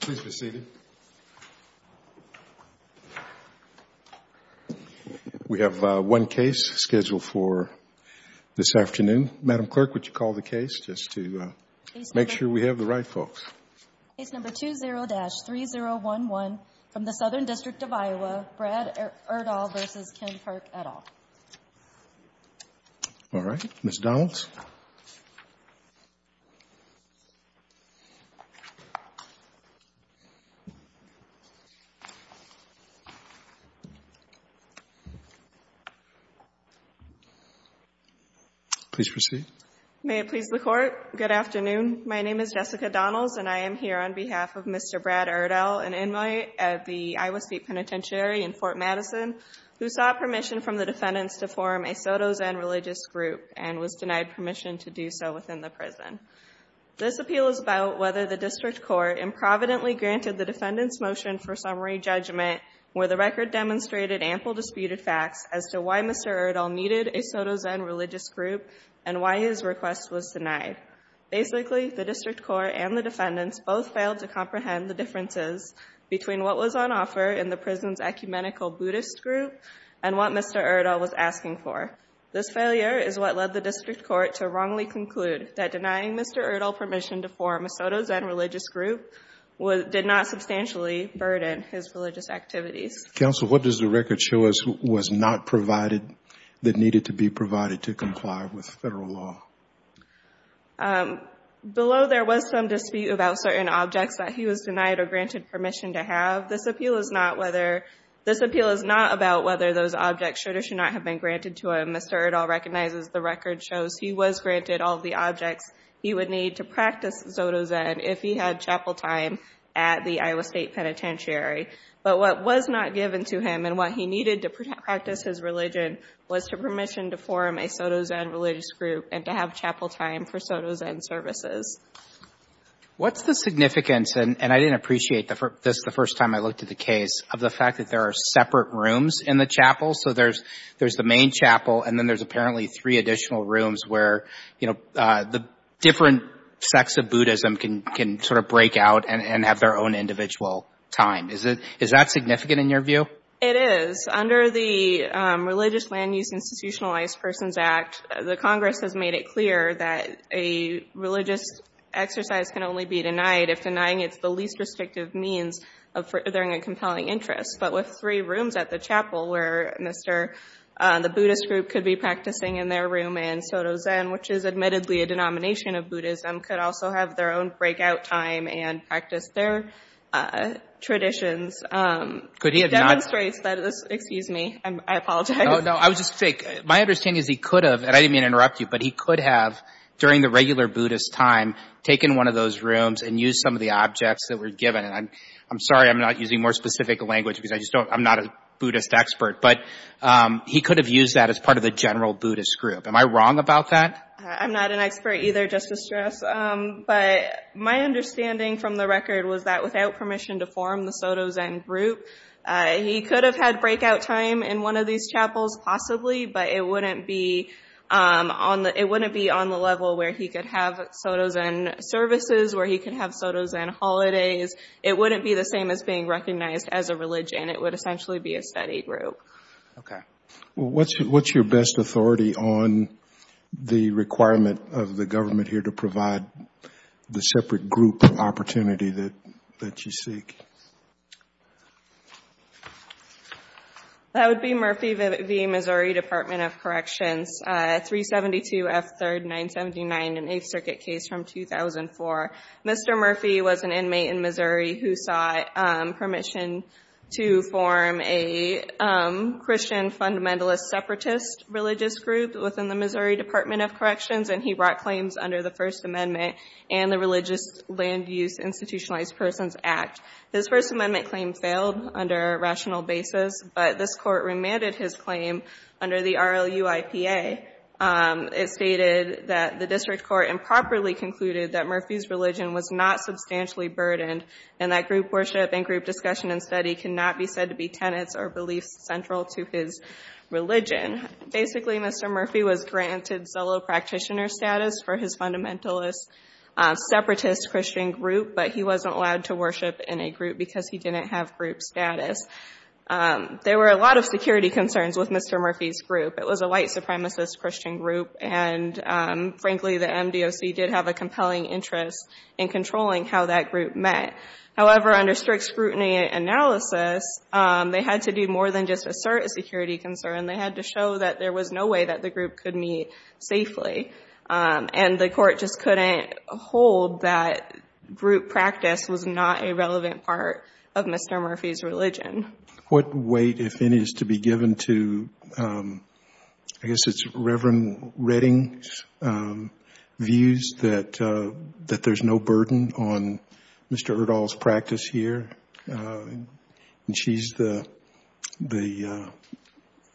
Please be seated. We have one case scheduled for this afternoon. Madam Clerk, would you call the case just to make sure we have the right folks? Case number 20-3011 from the Southern District of Iowa, Brad Erdahl v. Ken Pirc, et al. All right, Ms. Donalds. Please proceed. May it please the Court, good afternoon. My name is Jessica Donalds and I am here on behalf of Mr. Brad Erdahl, an inmate at the Iowa State Penitentiary in Fort Madison, who sought permission from the defendants to form a Soto Zen religious group and was denied permission to do so within the prison. This appeal is about whether the District Court improvidently granted the defendants' motion for summary judgment where the record demonstrated ample disputed facts as to why Mr. Erdahl needed a Soto Zen religious group and why his request was denied. Basically, the District Court and the defendants both failed to comprehend the differences between what was on offer in the prison's ecumenical Buddhist group and what Mr. Erdahl was asking for. This failure is what led the District Court to wrongly conclude that denying Mr. Erdahl permission to form a Soto Zen religious group did not substantially burden his religious activities. Counsel, what does the record show us was not provided that needed to be provided to comply with federal law? Below there was some dispute about certain objects that he was denied or granted permission to have. This appeal is not about whether those objects should or should not have been granted to him. Mr. Erdahl recognizes the record shows he was granted all the objects he would need to practice Soto Zen if he had chapel time at the Iowa State Penitentiary. But what was not given to him and what he needed to practice his religion was permission to form a Soto Zen religious group and to have chapel time for Soto Zen services. What's the significance, and I didn't appreciate this the first time I looked at the case, of the fact that there are separate rooms in the chapel? So there's the main chapel and then there's apparently three additional rooms where, you know, the different sects of Buddhism can sort of break out and have their own individual time. Is that significant in your view? It is. Under the Religious Land Use Institutionalized Persons Act, the Congress has made it clear that a religious exercise can only be denied if denying it's the least restrictive means of furthering a compelling interest. But with three rooms at the chapel where Mr. — the Buddhist group could be practicing in their room and Soto Zen, which is admittedly a denomination of Buddhism, could also have their own breakout time and practice their traditions. Could he have not — Demonstrates that — excuse me, I apologize. No, no, I was just — my understanding is he could have, and I didn't mean to interrupt you, but he could have, during the regular Buddhist time, taken one of those rooms and used some of the objects that were given. And I'm sorry I'm not using more specific language because I just don't — I'm not a Buddhist expert. But he could have used that as part of the general Buddhist group. Am I wrong about that? I'm not an expert either, just to stress. But my understanding from the record was that without permission to form the Soto Zen group, he could have had breakout time in one of these chapels possibly, but it wouldn't be on the level where he could have Soto Zen services, where he could have Soto Zen holidays. It wouldn't be the same as being recognized as a religion. It would essentially be a study group. Okay. What's your best authority on the requirement of the government here to provide the separate group opportunity that you seek? That would be Murphy v. Missouri Department of Corrections, 372 F. 3rd 979, an Eighth Circuit case from 2004. Mr. Murphy was an inmate in Missouri who sought permission to form a Christian fundamentalist separatist religious group within the Missouri Department of Corrections, and he brought claims under the First Amendment and the Religious Land Use Institutionalized Persons Act. His First Amendment claim failed under rational basis, but this court remanded his claim under the RLUIPA. It stated that the district court improperly concluded that Murphy's religion was not substantially burdened and that group worship and group discussion and study cannot be said to be tenets or beliefs central to his religion. Basically, Mr. Murphy was granted solo practitioner status for his fundamentalist separatist Christian group, but he wasn't allowed to worship in a group because he didn't have group status. There were a lot of security concerns with Mr. Murphy's group. It was a white supremacist Christian group, and frankly, the MDOC did have a compelling interest in controlling how that group met. However, under strict scrutiny analysis, they had to do more than just assert a security concern. They had to show that there was no way that the group could meet safely, and the court just couldn't hold that group practice was not a relevant part of Mr. Murphy's religion. What weight, if any, is to be given to, I guess it's Reverend Redding's views, that there's no burden on Mr. Erdahl's practice here, and she's the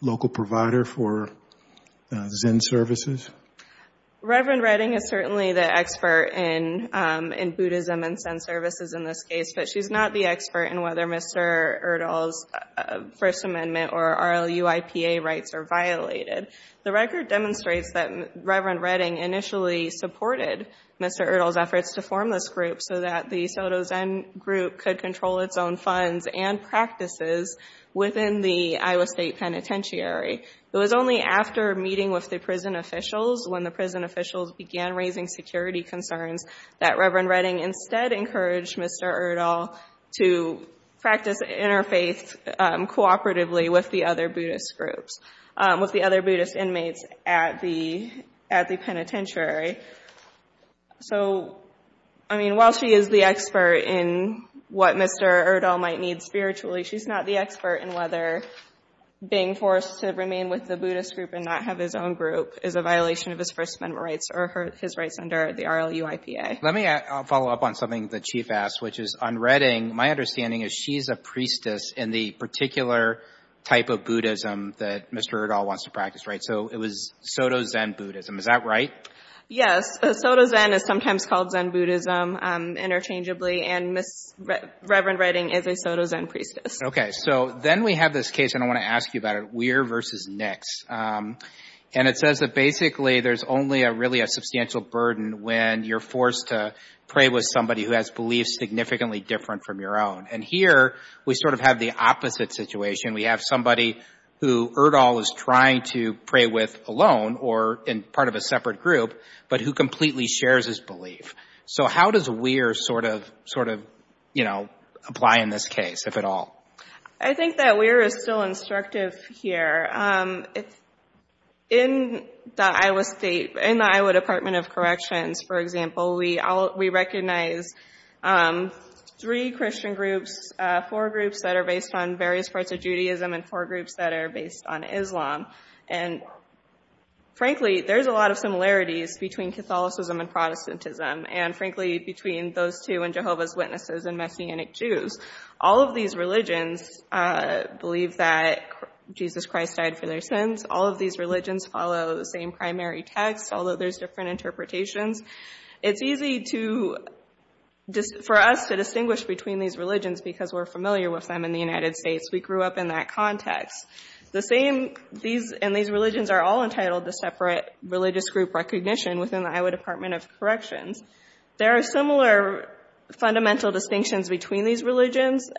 local provider for Zen services? Reverend Redding is certainly the expert in Buddhism and Zen services in this case, but she's not the expert in whether Mr. Erdahl's First Amendment or RLUIPA rights are violated. The record demonstrates that Reverend Redding initially supported Mr. Erdahl's efforts to form this group so that the Soto Zen group could control its own funds and practices within the Iowa State Penitentiary. It was only after meeting with the prison officials, when the prison officials began raising security concerns, that Reverend Redding instead encouraged Mr. Erdahl to practice interfaith cooperatively with the other Buddhist groups, with the other Buddhist inmates at the penitentiary. So, I mean, while she is the expert in what Mr. Erdahl might need spiritually, she's not the expert in whether being forced to remain with the Buddhist group and not have his own group is a violation of his First Amendment rights or his rights under the RLUIPA. Let me follow up on something the Chief asked, which is on Redding, my understanding is she's a priestess in the particular type of Buddhism that Mr. Erdahl wants to practice, right? So it was Soto Zen Buddhism, is that right? Yes, Soto Zen is sometimes called Zen Buddhism interchangeably, and Reverend Redding is a Soto Zen priestess. Okay, so then we have this case, and I want to ask you about it, Weir v. Nix. And it says that basically there's only really a substantial burden when you're forced to pray with somebody who has beliefs significantly different from your own. And here we sort of have the opposite situation. We have somebody who Erdahl is trying to pray with alone or in part of a separate group, but who completely shares his belief. So how does Weir sort of, you know, apply in this case, if at all? I think that Weir is still instructive here. In the Iowa State, in the Iowa Department of Corrections, for example, we recognize three Christian groups, four groups that are based on various parts of Judaism, and four groups that are based on Islam. And frankly, there's a lot of similarities between Catholicism and Protestantism, and frankly, between those two and Jehovah's Witnesses and Messianic Jews. All of these religions believe that Jesus Christ died for their sins. All of these religions follow the same primary text, although there's different interpretations. It's easy for us to distinguish between these religions because we're familiar with them in the United States. We grew up in that context. And these religions are all entitled to separate religious group recognition within the Iowa Department of Corrections. There are similar fundamental distinctions between these religions,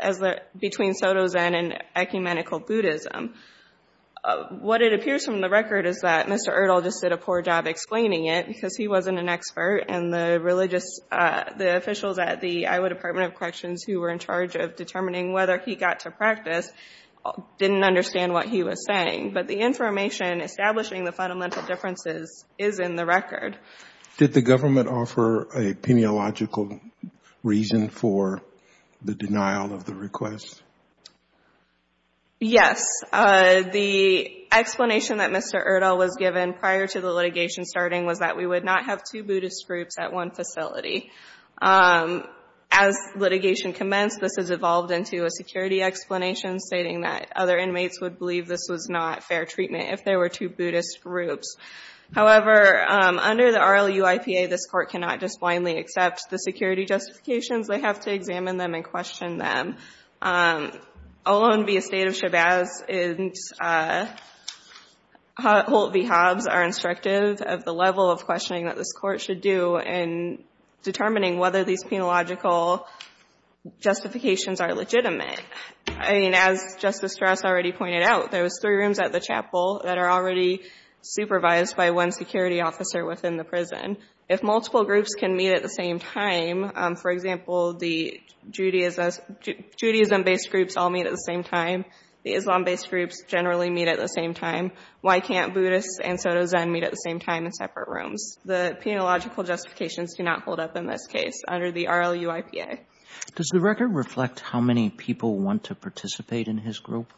between Soto Zen and ecumenical Buddhism. What it appears from the record is that Mr. Erdahl just did a poor job explaining it because he wasn't an expert, and the religious, the officials at the Iowa Department of Corrections who were in charge of determining whether he got to practice didn't understand what he was saying. But the information establishing the fundamental differences is in the record. Did the government offer a pineological reason for the denial of the request? Yes. The explanation that Mr. Erdahl was given prior to the litigation starting was that we would not have two Buddhist groups at one facility. As litigation commenced, this has evolved into a security explanation stating that other inmates would believe this was not fair treatment if there were two Buddhist groups. However, under the RLU-IPA, this Court cannot just blindly accept the security justifications. They have to examine them and question them. Alone be a state of shabazz, Holt v. Hobbs are instructive of the level of questioning that this Court should do in determining whether these pineological justifications are legitimate. I mean, as Justice Strauss already pointed out, there was three rooms at the chapel that are already supervised by one security officer within the prison. If multiple groups can meet at the same time, for example, the Judaism-based groups all meet at the same time. The Islam-based groups generally meet at the same time. Why can't Buddhists and Soto Zen meet at the same time in separate rooms? The pineological justifications do not hold up in this case under the RLU-IPA. Does the record reflect how many people want to participate in his group?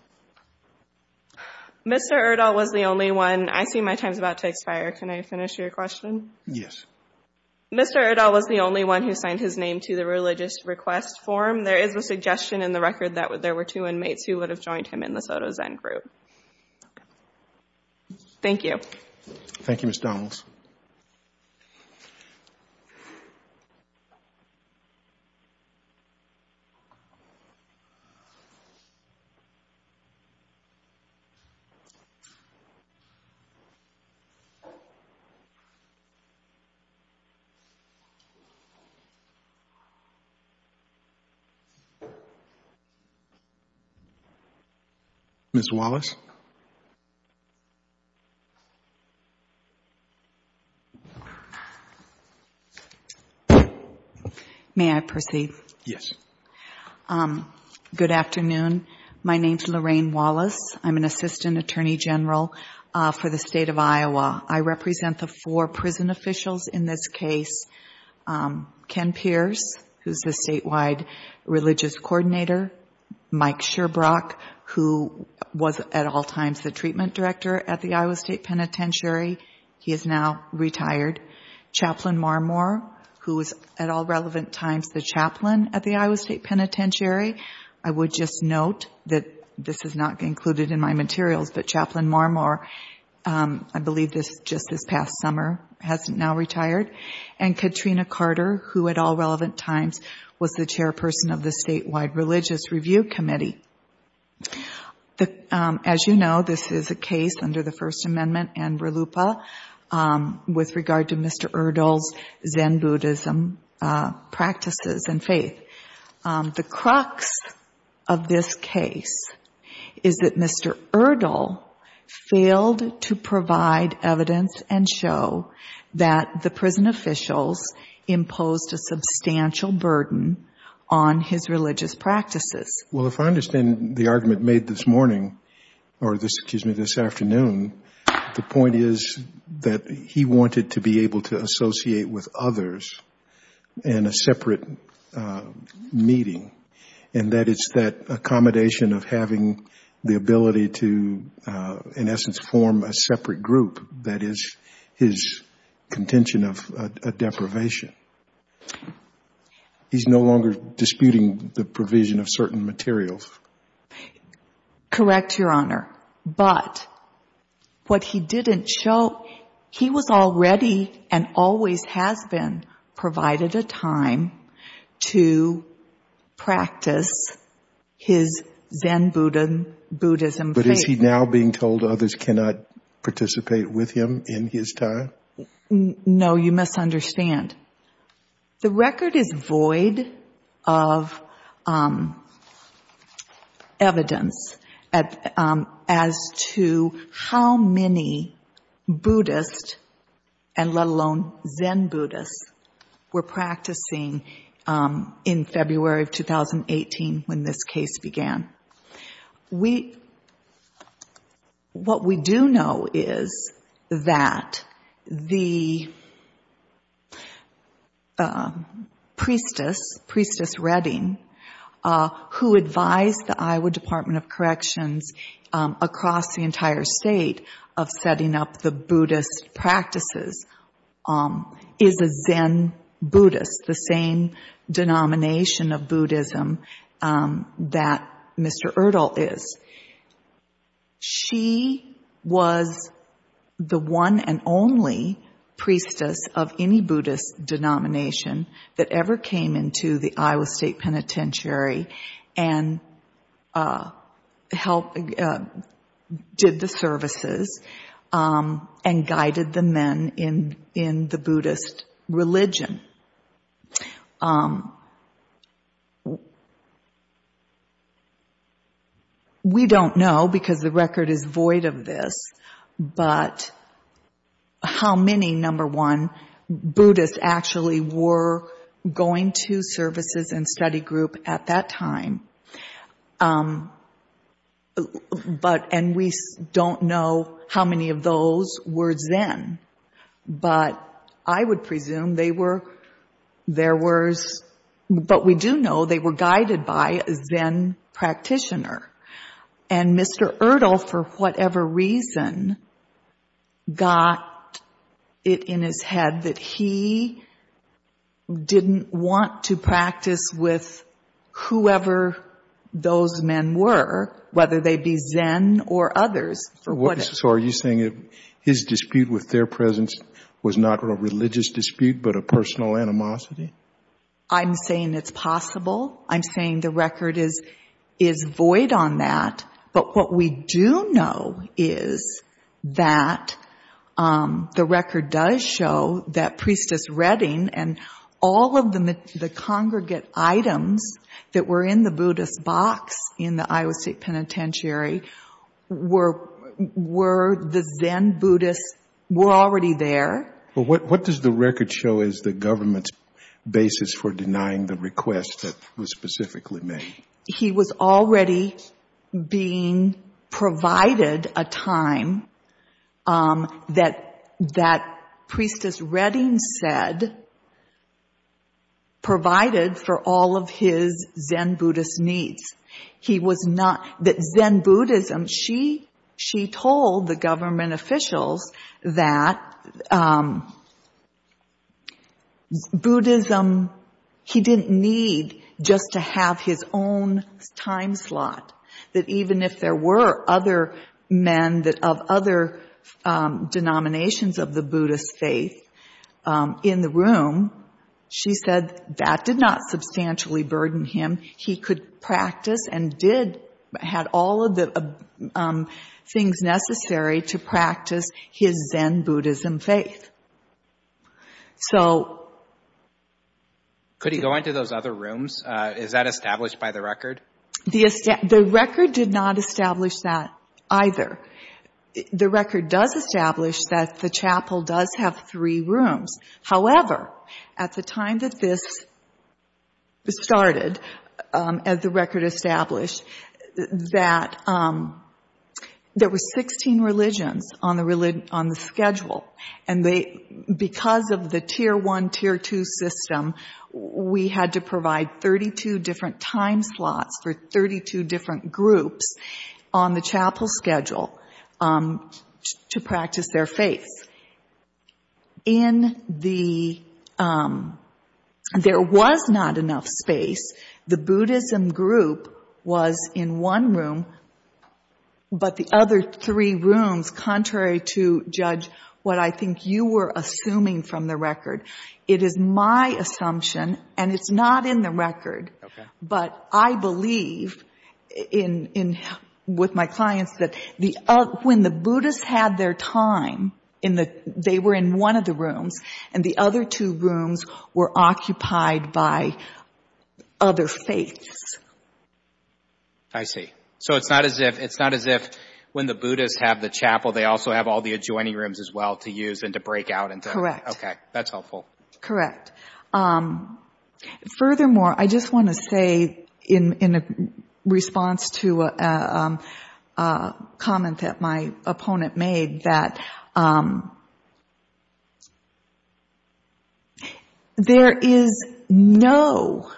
Mr. Erdahl was the only one. I see my time is about to expire. Can I finish your question? Yes. Mr. Erdahl was the only one who signed his name to the religious request form. There is a suggestion in the record that there were two inmates who would have joined him in the Soto Zen group. Thank you. Thank you, Ms. Donnells. Ms. Wallace? May I proceed? Yes. Good afternoon. My name is Lorraine Wallace. I'm an assistant attorney general for the state of Iowa. I represent the four prison officials in this case. Ken Pierce, who is the statewide religious coordinator. Mike Sherbrock, who was at all times the treatment director at the Iowa State Penitentiary. He is now retired. Chaplain Marmore, who was at all relevant times the chaplain at the Iowa State Penitentiary. I would just note that this is not included in my materials, but Chaplain Marmore, I believe just this past summer, has now retired. And Katrina Carter, who at all relevant times was the chairperson of the statewide religious review committee. As you know, this is a case under the First Amendment and RLUIPA with regard to Mr. Erdl's Zen Buddhism practices and faith. The crux of this case is that Mr. Erdl failed to provide evidence and show that the prison officials imposed a substantial burden on his religious practices. Well, if I understand the argument made this morning, or excuse me, this afternoon, the point is that he wanted to be able to associate with others in a separate meeting. And that it's that accommodation of having the ability to, in essence, form a separate group that is his contention of a deprivation. He's no longer disputing the provision of certain materials. Correct, Your Honor. But what he didn't show, he was already and always has been provided a time to practice his Zen Buddhism faith. But is he now being told others cannot participate with him in his time? No, you misunderstand. The record is void of evidence as to how many Buddhist, and let alone Zen Buddhists, were practicing in February of 2018 when this case began. What we do know is that the priestess, Priestess Redding, who advised the Iowa Department of Corrections across the entire state of setting up the Buddhist practices, is a Zen Buddhist, the same denomination of Buddhism that Mr. Erdahl is. She was the one and only priestess of any Buddhist denomination that ever came into the Iowa State Penitentiary and did the services and guided the men in the Buddhist religion. We don't know, because the record is void of this, but how many, number one, Buddhists actually were going to services and study group at that time, but, and we don't know how many of those were Zen, but I would presume they were, there was, but we do know they were guided by a Zen practitioner. And Mr. Erdahl, for whatever reason, got it in his head that he didn't want to practice with whoever those men were, whether they be Zen or others. So are you saying his dispute with their presence was not a religious dispute but a personal animosity? I'm saying it's possible. I'm saying the record is void on that. But what we do know is that the record does show that Priestess Redding and all of the congregate items that were in the Buddhist box in the Iowa State Penitentiary were the Zen Buddhists, were already there. But what does the record show as the government's basis for denying the request that was specifically made? He was already being provided a time that Priestess Redding said provided for all of his Zen Buddhist needs. He was not, that Zen Buddhism, she told the government officials that Buddhism, he didn't need just to have his own time slot. That even if there were other men of other denominations of the Buddhist faith in the room, she said that did not substantially burden him. He could practice and did, had all of the things necessary to practice his Zen Buddhism faith. So... Could he go into those other rooms? Is that established by the record? The record did not establish that either. The record does establish that the chapel does have three rooms. However, at the time that this started, as the record established, that there were 16 religions on the schedule. And because of the Tier 1, Tier 2 system, we had to provide 32 different time slots for 32 different groups on the chapel schedule to practice their faith. In the, there was not enough space. The Buddhism group was in one room, but the other three rooms, contrary to judge, what I think you were assuming from the record. It is my assumption, and it's not in the record. Okay. But I believe in, with my clients that the, when the Buddhists had their time in the, they were in one of the rooms, and the other two rooms were occupied by other faiths. I see. So it's not as if, it's not as if when the Buddhists have the chapel, they also have all the adjoining rooms as well to use and to break out and to... Correct. Okay. That's helpful. Correct. Furthermore, I just want to say in response to a comment that my opponent made that there is no,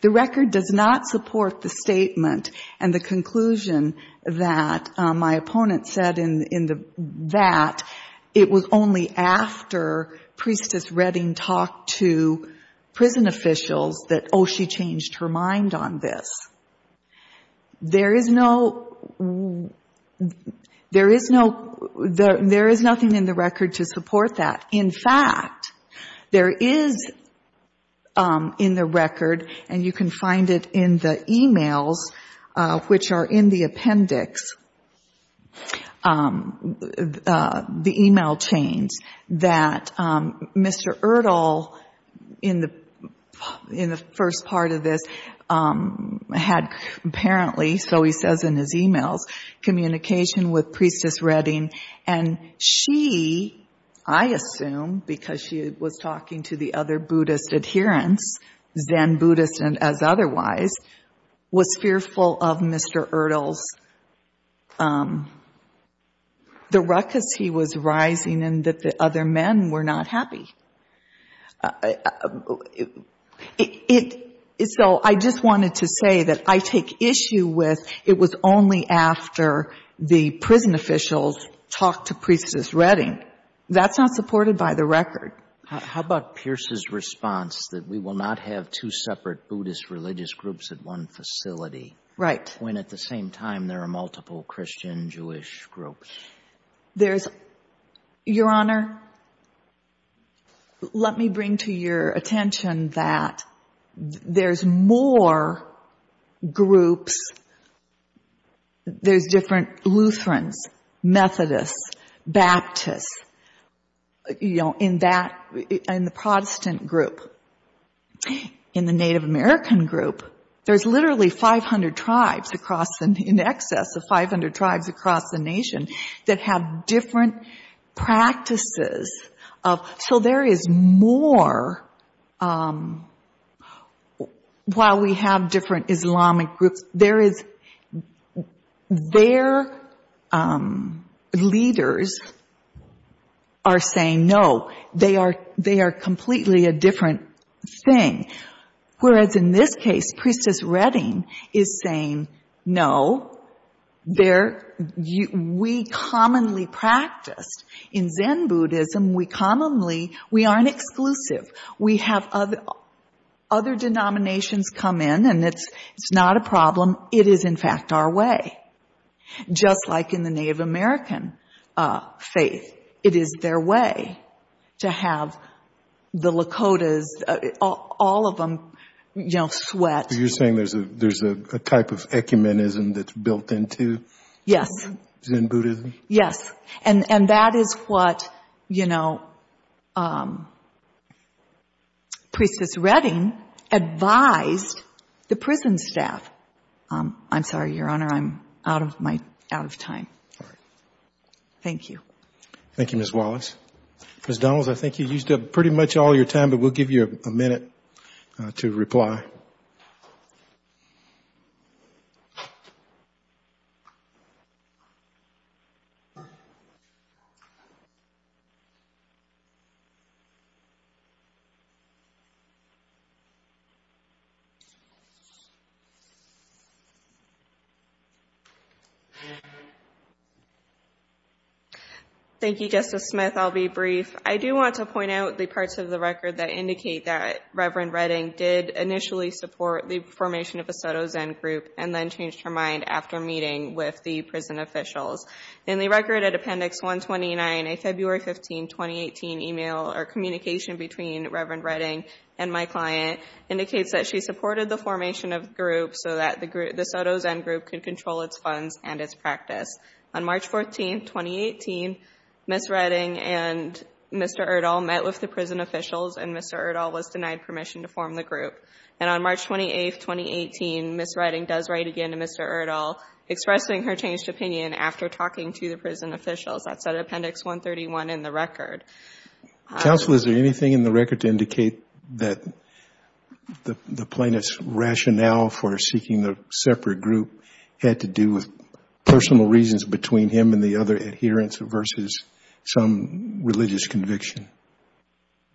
the record does not support the statement and the conclusion that my opponent said in the, that it was only after Priestess Redding talked to prison officials that, oh, she changed her mind on this. There is no, there is no, there is nothing in the record to support that. In fact, there is in the record, and you can find it in the e-mails, which are in the appendix, the e-mail chains, that Mr. Erdahl in the first part of this had apparently, so he says in his e-mails, communication with Priestess Redding, and she, I assume because she was talking to the other Buddhist adherents, Zen Buddhists as otherwise, was fearful of Mr. Erdahl's, the ruckus he was rising and that the other men were not happy. So I just wanted to say that I take issue with it was only after the prison officials talked to Priestess Redding. That's not supported by the record. How about Pierce's response that we will not have two separate Buddhist religious groups at one facility... Right. ...when at the same time there are multiple Christian Jewish groups? Your Honor, let me bring to your attention that there's more groups, there's different Lutherans, Methodists, Baptists, you know, in that, in the Protestant group. In the Native American group, there's literally 500 tribes across the, in excess of 500 tribes across the nation that have different practices of, so there is more, while we have different Islamic groups, there is, their leaders are saying no. They are, they are completely a different thing. Whereas in this case, Priestess Redding is saying, no, there, we commonly practice, in Zen Buddhism, we commonly, we aren't exclusive. We have other denominations come in and it's, it's not a problem. It is, in fact, our way. Just like in the Native American faith, it is their way to have the Lakotas, all of them, you know, sweat. So you're saying there's a, there's a type of ecumenism that's built into... Yes. ...Zen Buddhism? Yes. And, and that is what, you know, Priestess Redding advised the prison staff. I'm sorry, Your Honor, I'm out of my, out of time. All right. Thank you. Thank you, Ms. Wallace. Ms. Donalds, I think you used up pretty much all your time, but we'll give you a minute to reply. Thank you, Justice Smith. I'll be brief. I do want to point out the parts of the record that indicate that Reverend Redding did initially support the formation of a Soto Zen group and then changed her mind after meeting with the prison officials. In the record at Appendix 129, a February 15, 2018, email or communication between Reverend Redding and my client indicates that she supported the formation of the group so that the Soto Zen group could control its funds and its practice. On March 14, 2018, Ms. Redding and Mr. Erdahl met with the prison officials and Mr. Erdahl was denied permission to form the group. And on March 28, 2018, Ms. Redding does write again to Mr. Erdahl expressing her changed opinion after talking to the prison officials. That's at Appendix 131 in the record. Counsel, is there anything in the record to indicate that the plaintiff's rationale for seeking a separate group had to do with personal reasons between him and the other adherents versus some religious conviction?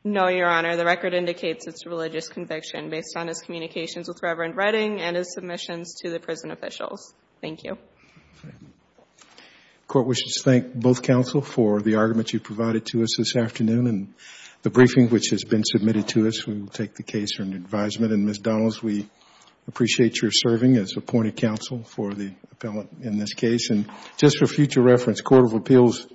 No, Your Honor. The record indicates it's a religious conviction based on his communications with Reverend Redding and his submissions to the prison officials. Thank you. The Court wishes to thank both counsel for the argument you provided to us this afternoon and the briefing which has been submitted to us. We will take the case for an advisement. And Ms. Donnells, we appreciate your serving as appointed counsel for the appellant in this case. And just for future reference, Court of Appeals,